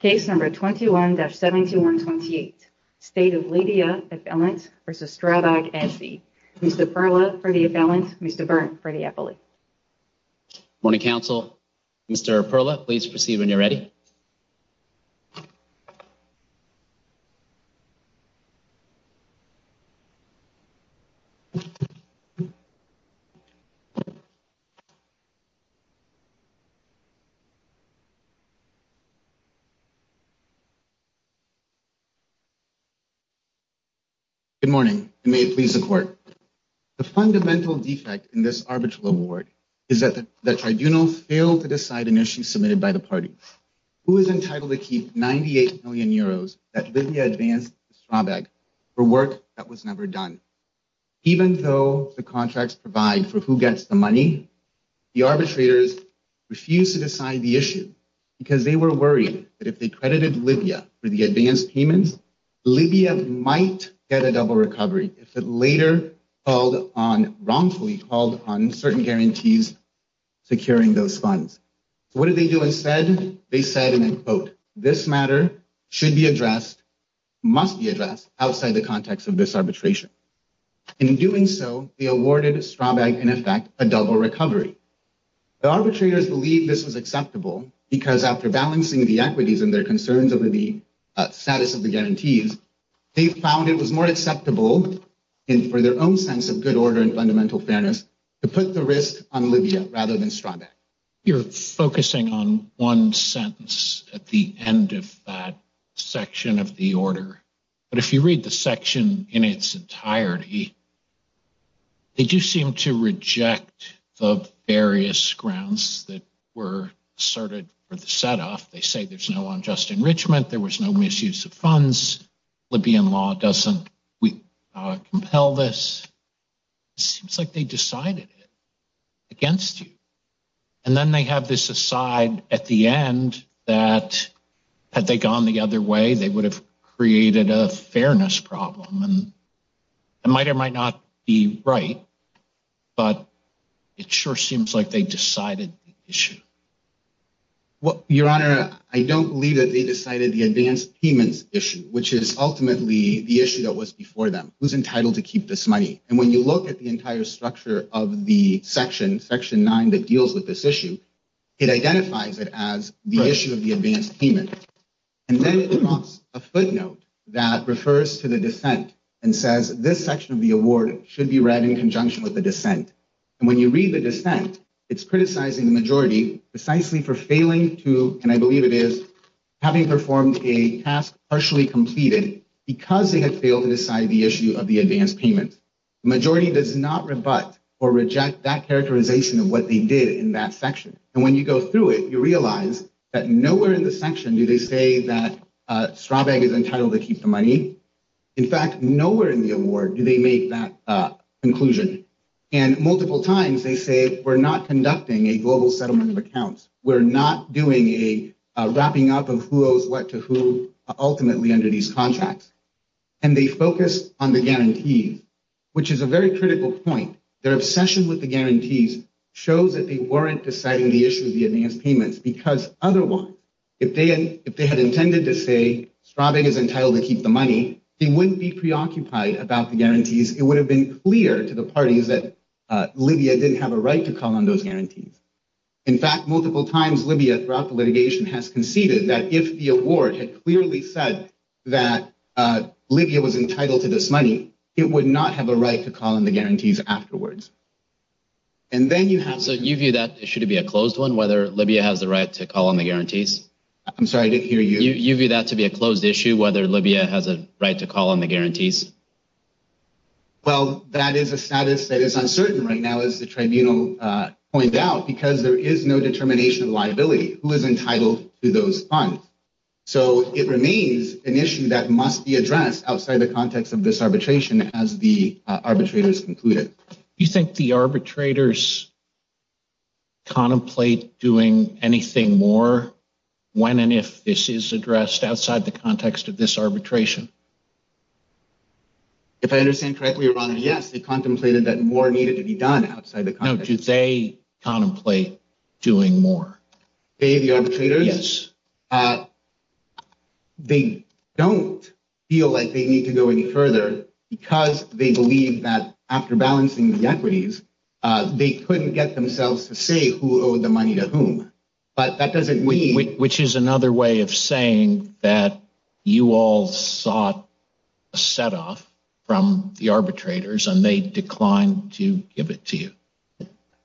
Case number 21-7128, State of Libya affiliant v. Strabag SE. Mr. Perla for the affiliant, Mr. Berndt for the affiliate. Morning Council, Mr. Perla, please proceed when you're ready. Good morning, and may it please the Court. The fundamental defect in this arbitral award is that the Tribunal failed to decide an issue submitted by the party. Who is entitled to keep 98 million euros that Libya advanced to Strabag for work that was never done? Even though the contracts provide for who gets the money, the arbitrators refused to decide the issue because they were worried that if they credited Libya for the advance payments, Libya might get a double recovery if it later called on, wrongfully called on, certain guarantees securing those funds. What did they do instead? They said, and I quote, this matter should be addressed, must be addressed outside the context of this arbitration. In doing so, they awarded Strabag, in effect, a double recovery. The arbitrators believe this was acceptable because after balancing the equities and their concerns over the status of the guarantees, they found it was more acceptable, and for their own sense of good order and fundamental fairness, to put the risk on Libya rather than Strabag. You're focusing on one sentence at the end of that section of the order, but if you read the section in its entirety, they do seem to reject the various grounds that were asserted for the set-off. They say there's no unjust enrichment, there was no misuse of funds, Libyan law doesn't compel this. It seems like they decided it against you. And then they have this aside at the end that had they gone the other way, they would have created a fairness problem, and it might or might not be right, but it sure seems like they decided the issue. Your Honor, I don't believe that they decided the advance payments issue, which is ultimately the issue that was before them. Who's entitled to keep this money? And when you look at the entire structure of the section, section nine, that deals with this issue, it identifies it as the issue of the advance payment. And then it prompts a footnote that refers to the dissent and says this section of the award should be read in conjunction with the dissent. And when you read the dissent, it's criticizing the majority precisely for failing to, and I believe it is, having performed a task partially completed because they had failed to decide the issue of the advance payment. The majority does not rebut or reject that characterization of what they did in that section. And when you go through it, you realize that nowhere in the section do they say that Strabag is entitled to keep the money. In fact, nowhere in the award do they make that conclusion. And multiple times they say, we're not conducting a global settlement of accounts. We're not doing a wrapping up of who owes what to who ultimately under these contracts. And they focus on the guarantees, which is a very critical point. Their obsession with the guarantees shows that they weren't deciding the issue of the advance payments because otherwise, if they had intended to say Strabag is entitled to keep the money, they wouldn't be preoccupied about the guarantees. It would have been clear to the parties that Libya didn't have a right to call on those guarantees. In fact, multiple times Libya throughout the litigation has conceded that if the award had clearly said that Libya was entitled to this money, it would not have a right to call on the guarantees afterwards. And then you have... So you view that issue to be a closed one, whether Libya has the right to call on the guarantees? I'm sorry, I didn't hear you. You view that to be a closed issue, whether Libya has a right to call on the guarantees? Well, that is a status that is uncertain right now, as the tribunal pointed out, because there is no determination of liability, who is entitled to those funds. So it remains an issue that must be addressed outside the context of this arbitration as the arbitrators concluded. Do you think the arbitrators contemplate doing anything more when and if this is addressed outside the context of this arbitration? If I understand correctly, your honor, yes, they contemplated that more needed to be done outside the context... No, do they contemplate doing more? They, the arbitrators? Yes. They don't feel like they need to go any further because they believe that after balancing the equities, they couldn't get themselves to say who owed the money to whom. But that doesn't mean... Which is another way of saying that you all sought a set off from the arbitrators and they declined to give it to you.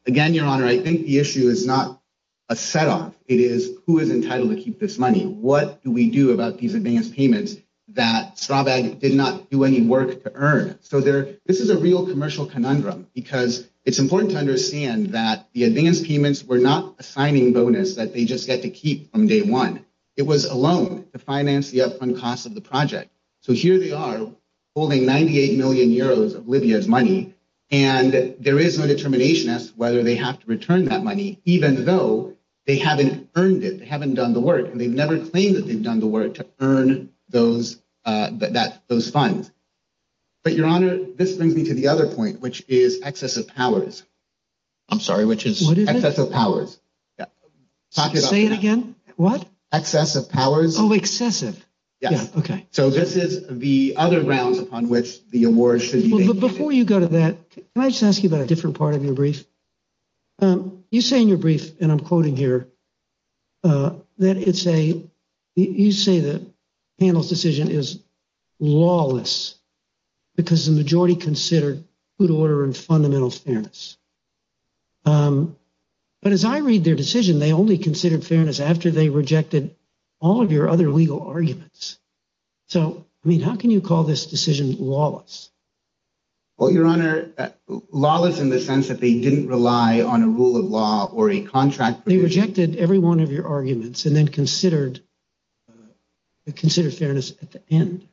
Again, your honor, I think the issue is not a set off. It is who is entitled to keep this money? What do we do about these advance payments that Strabag did not do any work to earn? So this is a real commercial conundrum because it's important to understand that the advance payments were not a signing bonus that they just get to keep from day one. It was a loan to finance the upfront costs of the project. So here they are holding 98 million euros of Libya's money and there is no determination as to whether they have to return that money, even though they haven't earned it. They haven't done the work and they've never claimed that they've done the work to earn those funds. But your honor, this brings me to the other point, which is excessive powers. I'm sorry, which is? Excessive powers. Say it again? What? Excessive powers. Yes. Okay. So this is the other grounds upon which the award should be. Before you go to that, can I just ask you about a different part of your brief? You say in your brief, and I'm quoting here, that it's a, you say the panel's decision is lawless because the majority considered good order and fundamental fairness. But as I read their decision, they only considered fairness after they rejected all of your other legal arguments. So, I mean, how can you call this decision lawless? Well, your honor, lawless in the sense that they didn't rely on a rule of law or a contract. They rejected every one of your arguments and then considered fairness at the end.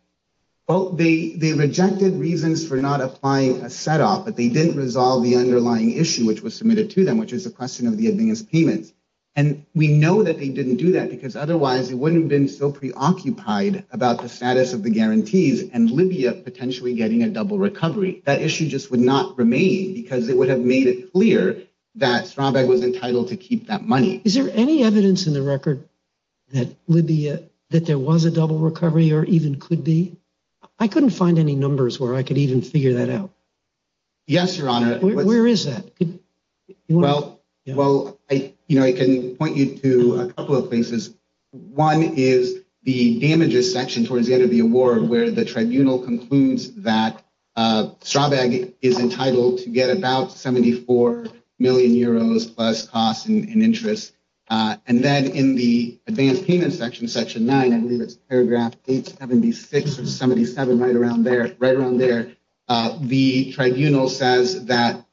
Well, they rejected reasons for not applying a setup, but they didn't resolve the underlying issue which was submitted to them, which is the question of the administrative payments. And we know that they didn't do that because otherwise they wouldn't have been so preoccupied about the status of the guarantees and Libya potentially getting a double recovery. That issue just would not remain because it would have made it clear that Stronbeck was entitled to keep that money. Is there any evidence in the record that Libya, that there was a double recovery or even could be? I couldn't find any numbers where I could even figure that out. Yes, your honor. Where is that? Well, you know, I can point you to a couple of places. One is the damages section towards the end of the award where the tribunal concludes that Stronbeck is entitled to get about 74 million euros plus costs and interests. And then in the advanced payment section, section paragraph 876 or 77, right around there, right around there. The tribunal says that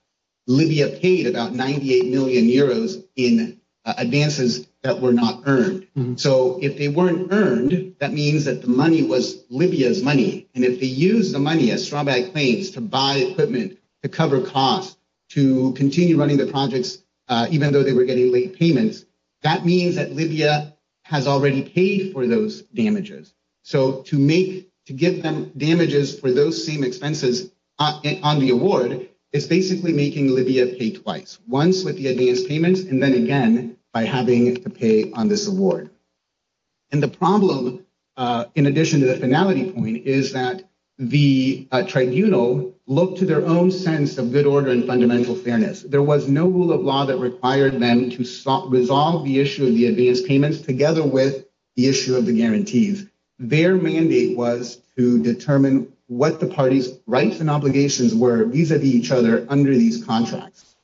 Libya paid about 98 million euros in advances that were not earned. So if they weren't earned, that means that the money was Libya's money. And if they use the money as Stronbeck claims to buy equipment, to cover costs, to continue running the projects, even though they were getting late payments, that means that Libya has already paid for those damages. So to make, to give them damages for those same expenses on the award, it's basically making Libya pay twice, once with the advance payments, and then again, by having to pay on this award. And the problem in addition to the finality point is that the tribunal looked to their own sense of good order and fundamental fairness. There was no rule of law that required them to resolve the issue of the advance payments together with the issue of the guarantees. Their mandate was to determine what the party's rights and obligations were vis-a-vis each other under these contracts.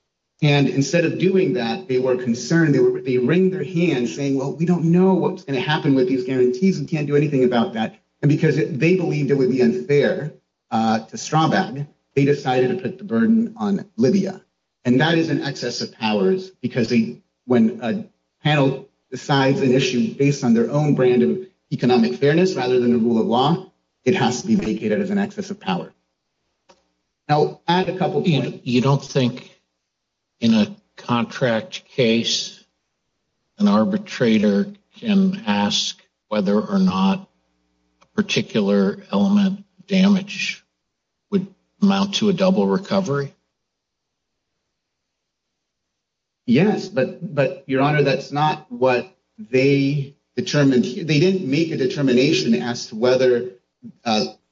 And instead of doing that, they were concerned, they were, they wringed their hands saying, well, we don't know what's going to happen with these guarantees. We can't do anything about that. And because they believed it would be unfair to Straubach, they decided to put the burden on Libya. And that is an excess of powers because they, when a panel decides an issue based on their own brand of economic fairness, rather than the rule of law, it has to be vacated as an excess of power. Now, add a couple points. You don't think in a contract case, an arbitrator can ask whether or not a particular element of damage would amount to a double recovery? Yes, but Your Honor, that's not what they determined. They didn't make a determination as to whether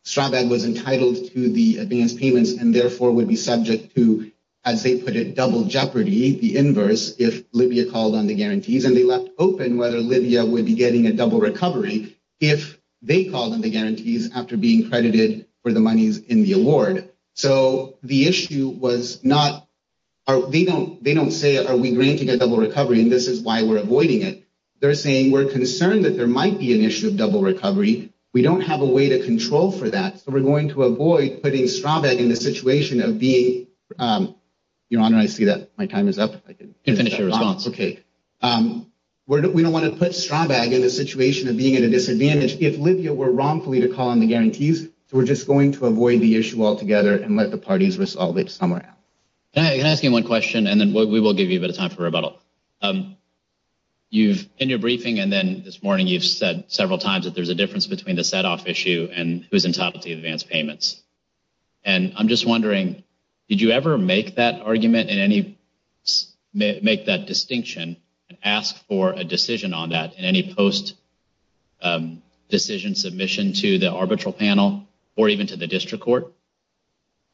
Straubach was entitled to the advance payments and therefore would be subject to, as they put it, double jeopardy, the inverse, if Libya called on the guarantees. And they left open whether Libya would be getting a double recovery if they called on the guarantees after being credited for the monies in the award. So, the issue was not, they don't say, are we granting a double recovery? And this is why we're avoiding it. They're saying, we're concerned that there might be an issue of double recovery. We don't have a way to control for that. So, we're going to avoid putting Straubach in the situation of being, Your Honor, I see that my response. Okay. We don't want to put Straubach in a situation of being at a disadvantage if Libya were wrongfully to call on the guarantees. So, we're just going to avoid the issue altogether and let the parties resolve it somewhere else. Can I ask you one question and then we will give you a bit of time for rebuttal. You've, in your briefing and then this morning, you've said several times that there's a difference between the set-off issue and who's entitled to advance and ask for a decision on that in any post-decision submission to the arbitral panel or even to the district court?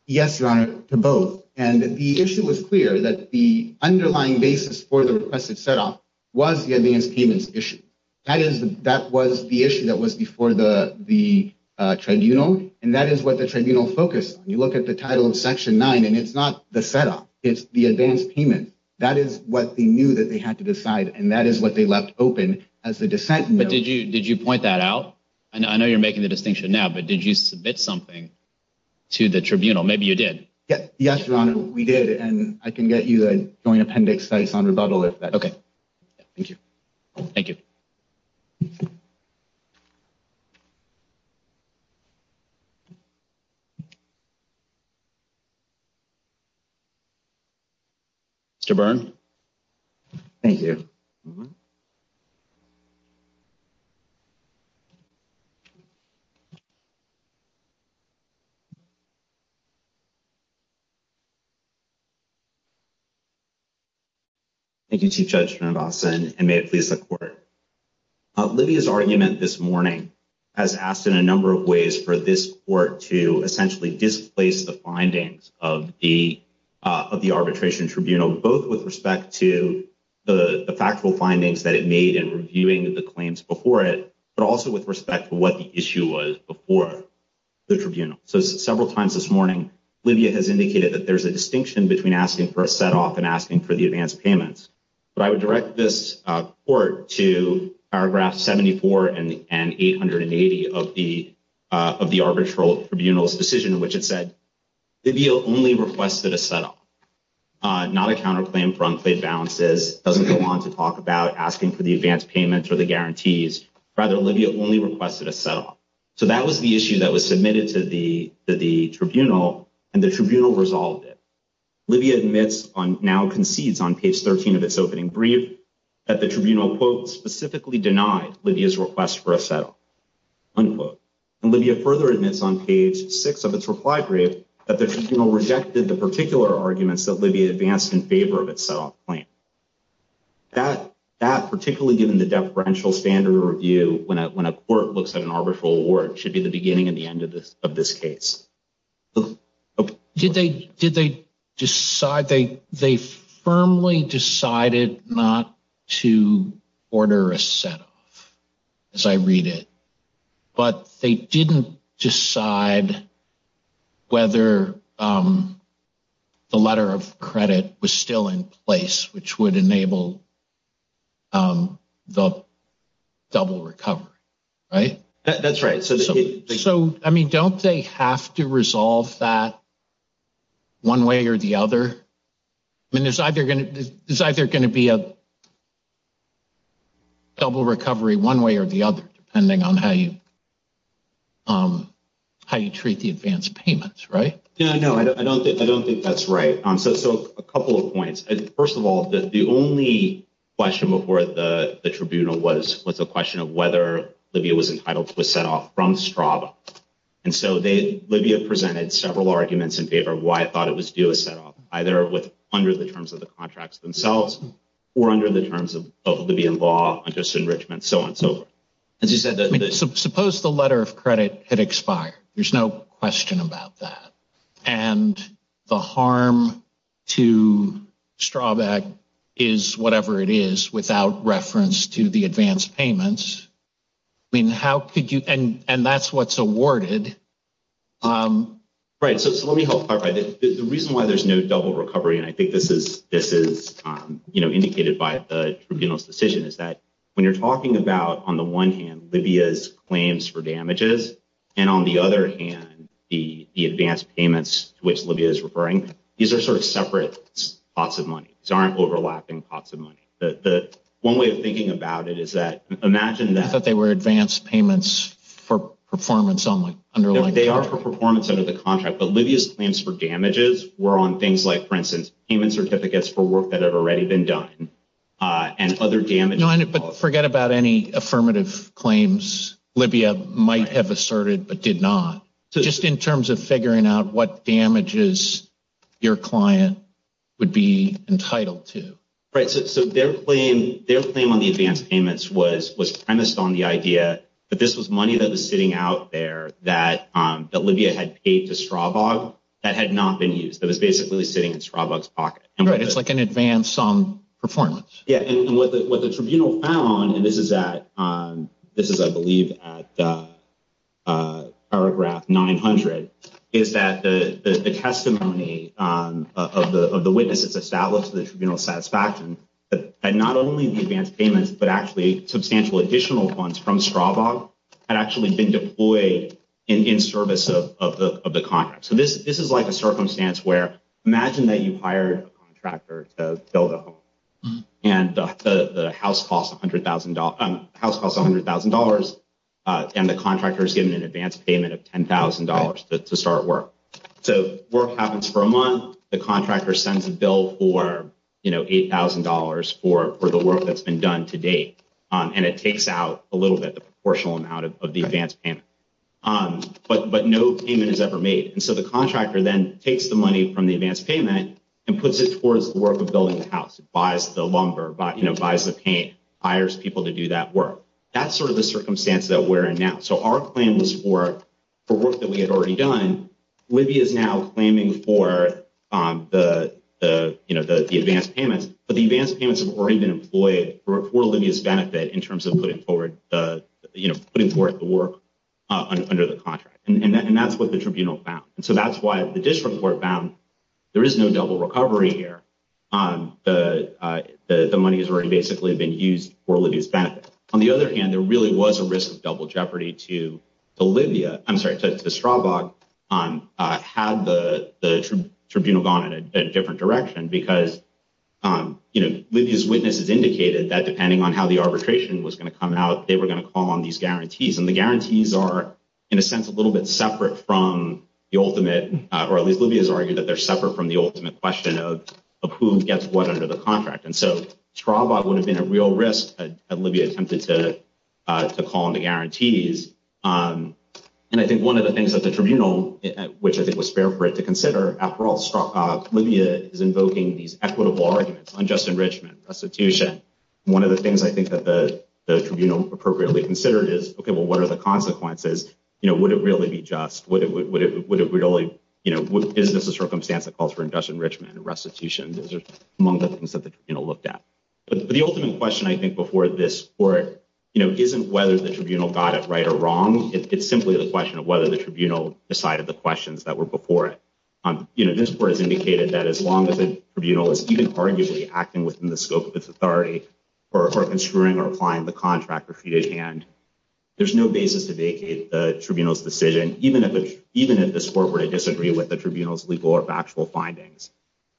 Yes, Your Honor, to both. And the issue was clear that the underlying basis for the requested set-off was the advance payments issue. That was the issue that was before the tribunal. And that is what the tribunal focused on. You look at the title of section nine and it's not the set-off, it's the advance payment. That is what they knew that they had to decide and that is what they left open as the dissent. But did you point that out? I know you're making the distinction now, but did you submit something to the tribunal? Maybe you did. Yes, Your Honor, we did. And I can get you a joint appendix that is on rebuttal if that's okay. Thank you. Thank you. Mr. Byrne. Thank you. Thank you, Chief Judge Mendoza, and may it please the court. Livia's argument this morning has asked in a number of ways for this court to essentially displace the findings of the arbitration tribunal, both with respect to the factual findings that it made in reviewing the claims before it, but also with respect to what the issue was before the tribunal. So several times this morning, Livia has indicated that there's a distinction between asking for a set-off and asking for the advance payments. But I would this court to paragraph 74 and 880 of the arbitral tribunal's decision in which it said, Livia only requested a set-off, not a counterclaim for unpaid balances, doesn't go on to talk about asking for the advance payments or the guarantees. Rather, Livia only requested a set-off. So that was the issue that was submitted to the tribunal and the tribunal resolved it. Livia admits on, now concedes on page 13 of its opening brief that the tribunal quote, specifically denied Livia's request for a set-off, unquote. And Livia further admits on page six of its reply brief that the tribunal rejected the particular arguments that Livia advanced in favor of its set-off claim. That, particularly given the deferential standard review, when a court looks at an arbitral award, should be the beginning and end of this case. Did they decide, they firmly decided not to order a set-off, as I read it, but they didn't decide whether the letter of credit was still in place, which would enable the double recovery, right? That's right. So, I mean, don't they have to resolve that one way or the other? I mean, there's either going to be a double recovery one way or the other, depending on how you treat the advance payments, right? Yeah, no, I don't think that's right. So, a couple of points. First of all, the only question before the tribunal was a question of whether Livia was entitled to a set-off from Strava. And so, Livia presented several arguments in favor of why it thought it was due a set-off, either under the terms of the contracts themselves or under the terms of Libyan law, unjust enrichment, so on and so forth. I mean, suppose the letter of credit had expired. There's no question about that. And the harm to Strava is whatever it is without reference to the advance payments. I mean, how could you, and that's what's awarded. Right, so let me help clarify. The reason why there's no double recovery, and I think this is indicated by the tribunal's decision, is that when you're talking about, on the one hand, Livia's claims for damages, and on the other hand, the advance payments, which Livia is referring, these are sort of separate pots of money. These aren't overlapping pots of money. One way of thinking about it is that, imagine that- I thought they were advance payments for performance only, under like- They are for performance under the contract, but Livia's claims for damages were on things like, for instance, payment certificates for work that had already been done, and other damage- No, but forget about any affirmative claims Livia might have asserted, but did not. Just in terms of figuring out what damages your client would be entitled to. Right, so their claim on the advance payments was premised on the idea that this was money that was sitting out there that Livia had paid to Stravag that had not been used, that was basically sitting in Stravag's pocket. Right, it's like an advance on performance. Yeah, and what the tribunal found, and this is, I believe, at paragraph 900, is that the testimony of the witnesses established to the tribunal's satisfaction that not only the advance payments, but actually substantial additional funds from Stravag had actually been deployed in service of the contract. So this is like a circumstance where, imagine that you hired a contractor to build a home, and the house costs $100,000, and the contractor is given an advance payment of $10,000 to start work. So work happens for a month, the contractor sends a bill for $8,000 for the work that's been done to date, and it takes out a little bit, the proportional amount of the advance payment, but no payment is ever made. And so the contractor then takes the money from the advance payment and puts it towards the work of building the house, buys the lumber, buys the paint, hires people to do that work. That's sort of the circumstance that we're in now. So our claim was for work that we had already done, Livia is now claiming for the advance payments, but the advance payments have already been deployed for Livia's benefit in terms of putting forward the work under the contract. And that's what the tribunal found. And so that's why the district court found there is no double recovery here. The money has already basically been used for Livia's benefit. On the other hand, there really was a risk of double jeopardy to Livia, I'm sorry, to Stravag had the tribunal gone in a different direction because Livia's witnesses indicated that depending on how the arbitration was going to come out, they were going to call on these guarantees. And the guarantees are in a sense a little bit separate from the ultimate, or at least Livia's argued that they're separate from the ultimate question of who gets what under the contract. And so Stravag would have been a real risk if Livia attempted to call on the guarantees. And I think one of the things that the tribunal, which I think was fair for it to consider, after all, Livia is invoking these equitable arguments, unjust enrichment, restitution. One of the things I think that the tribunal appropriately considered is, okay, well, what are the consequences? Would it really be just? Is this a circumstance that calls for unjust enrichment and restitution? Those are among the things that the tribunal looked at. But the ultimate question, I think, before this court, isn't whether the tribunal got it right or wrong. It's simply the question of whether the tribunal decided the questions that were before it. This court has indicated that as long as the tribunal is even arguably acting within the scope of its authority, or construing or applying the contract or fee-to-hand, there's no basis to vacate the tribunal's decision, even if the court were to disagree with the tribunal's legal or factual findings.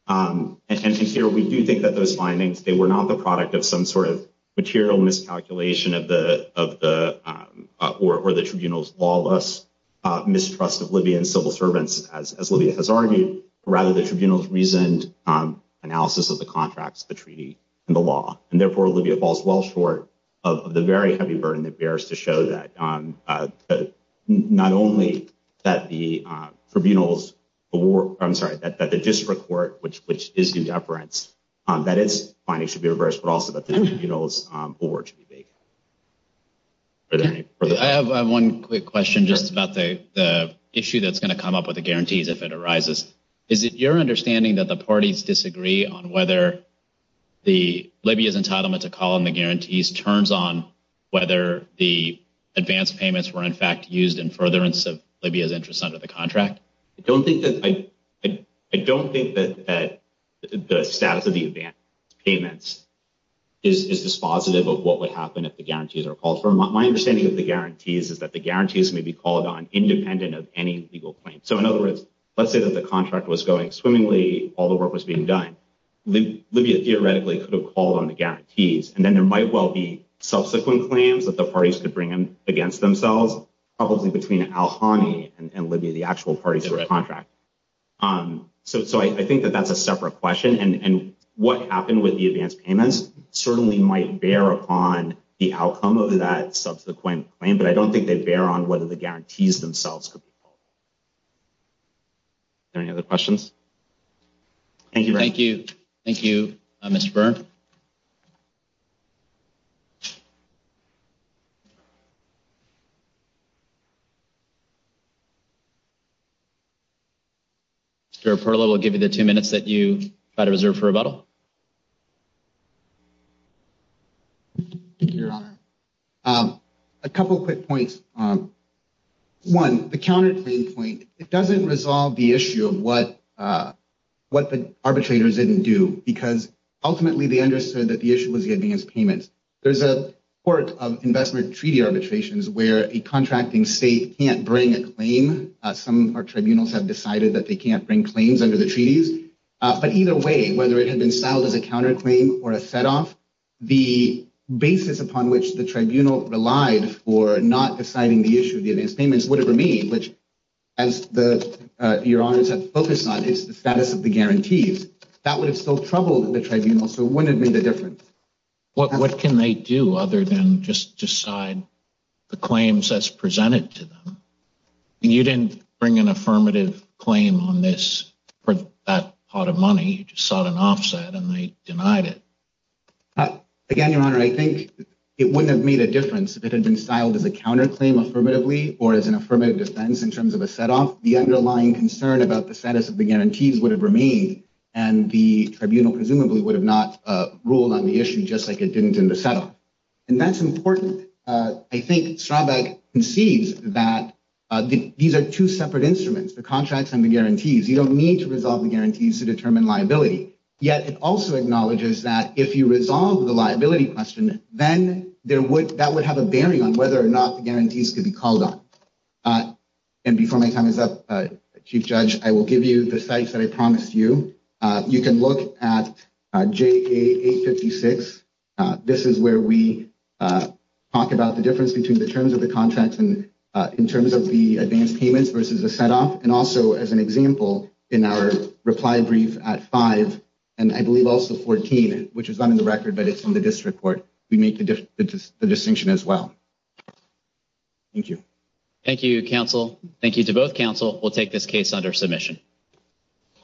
And here, we do think that those findings, they were not the product of some sort of material miscalculation or the tribunal's lawless mistrust of Livia and civil servants, as Livia has argued. Rather, the tribunal's reasoned analysis of the contracts, the treaty, and the law. And therefore, Livia falls well short of the very heavy burden that bears to show that not only that the district court, which is in deference, that its findings should be reversed, but also that the tribunal's board should be vacated. I have one quick question, just about the issue that's going to come up with the guarantees if it arises. Is it your understanding that the parties disagree on whether Livia's entitlement to call on the guarantees turns on whether the advance payments were in fact used in furtherance of Livia's interest under the is dispositive of what would happen if the guarantees are called for? My understanding of the guarantees is that the guarantees may be called on independent of any legal claim. So in other words, let's say that the contract was going swimmingly, all the work was being done, Livia theoretically could have called on the guarantees, and then there might well be subsequent claims that the parties could bring against themselves, probably between Al-Hani and Livia, the actual parties of the contract. So I think that that's a separate question. And what happened with the advance payments certainly might bear upon the outcome of that subsequent claim, but I don't think they bear on whether the guarantees themselves could be called. Are there any other questions? Thank you. Thank you. Thank you, Mr. Byrne. Mr. Perlow, we'll give you the two minutes that you've got to reserve for rebuttal. Your Honor, a couple of quick points. One, the counterclaim point, it doesn't resolve the issue of what the arbitrators didn't do because ultimately they understood that the issue was the advance payments. There's a work of investment treaty arbitrations where a contracting state can't bring a claim. Some of our tribunals have decided that they can't bring claims under the treaties, but either way, whether it had been styled as a counterclaim or a set off, the basis upon which the tribunal relied for not deciding the issue of the advance payments which, as Your Honor has focused on, is the status of the guarantees, that would have still troubled the tribunal, so it wouldn't have made a difference. What can they do other than just decide the claims as presented to them? You didn't bring an affirmative claim on this for that pot of money. You just sought an offset and they denied it. Again, Your Honor, I think it wouldn't have made a difference if it had been styled as a counterclaim affirmatively or as an affirmative defense in terms of a set off. The underlying concern about the status of the guarantees would have remained and the tribunal presumably would have not ruled on the issue just like it didn't in the set off. And that's important. I think Straubach concedes that these are two separate instruments, the contracts and the guarantees. You don't need to resolve the guarantees to determine liability. Yet it also acknowledges that if you resolve the liability question, then that would have a bearing on whether or not the guarantees could be called on. And before my time is up, Chief Judge, I will give you the sites that I promised you. You can look at JA 856. This is where we talk about the difference between the terms of the contract and in terms of the advance payments versus a set off. And also as an example, in our reply brief at 5 and I believe also 14, which is not in the record, but it's from the district court, we make the distinction as well. Thank you. Thank you, counsel. Thank you to both counsel. We'll take this case under submission.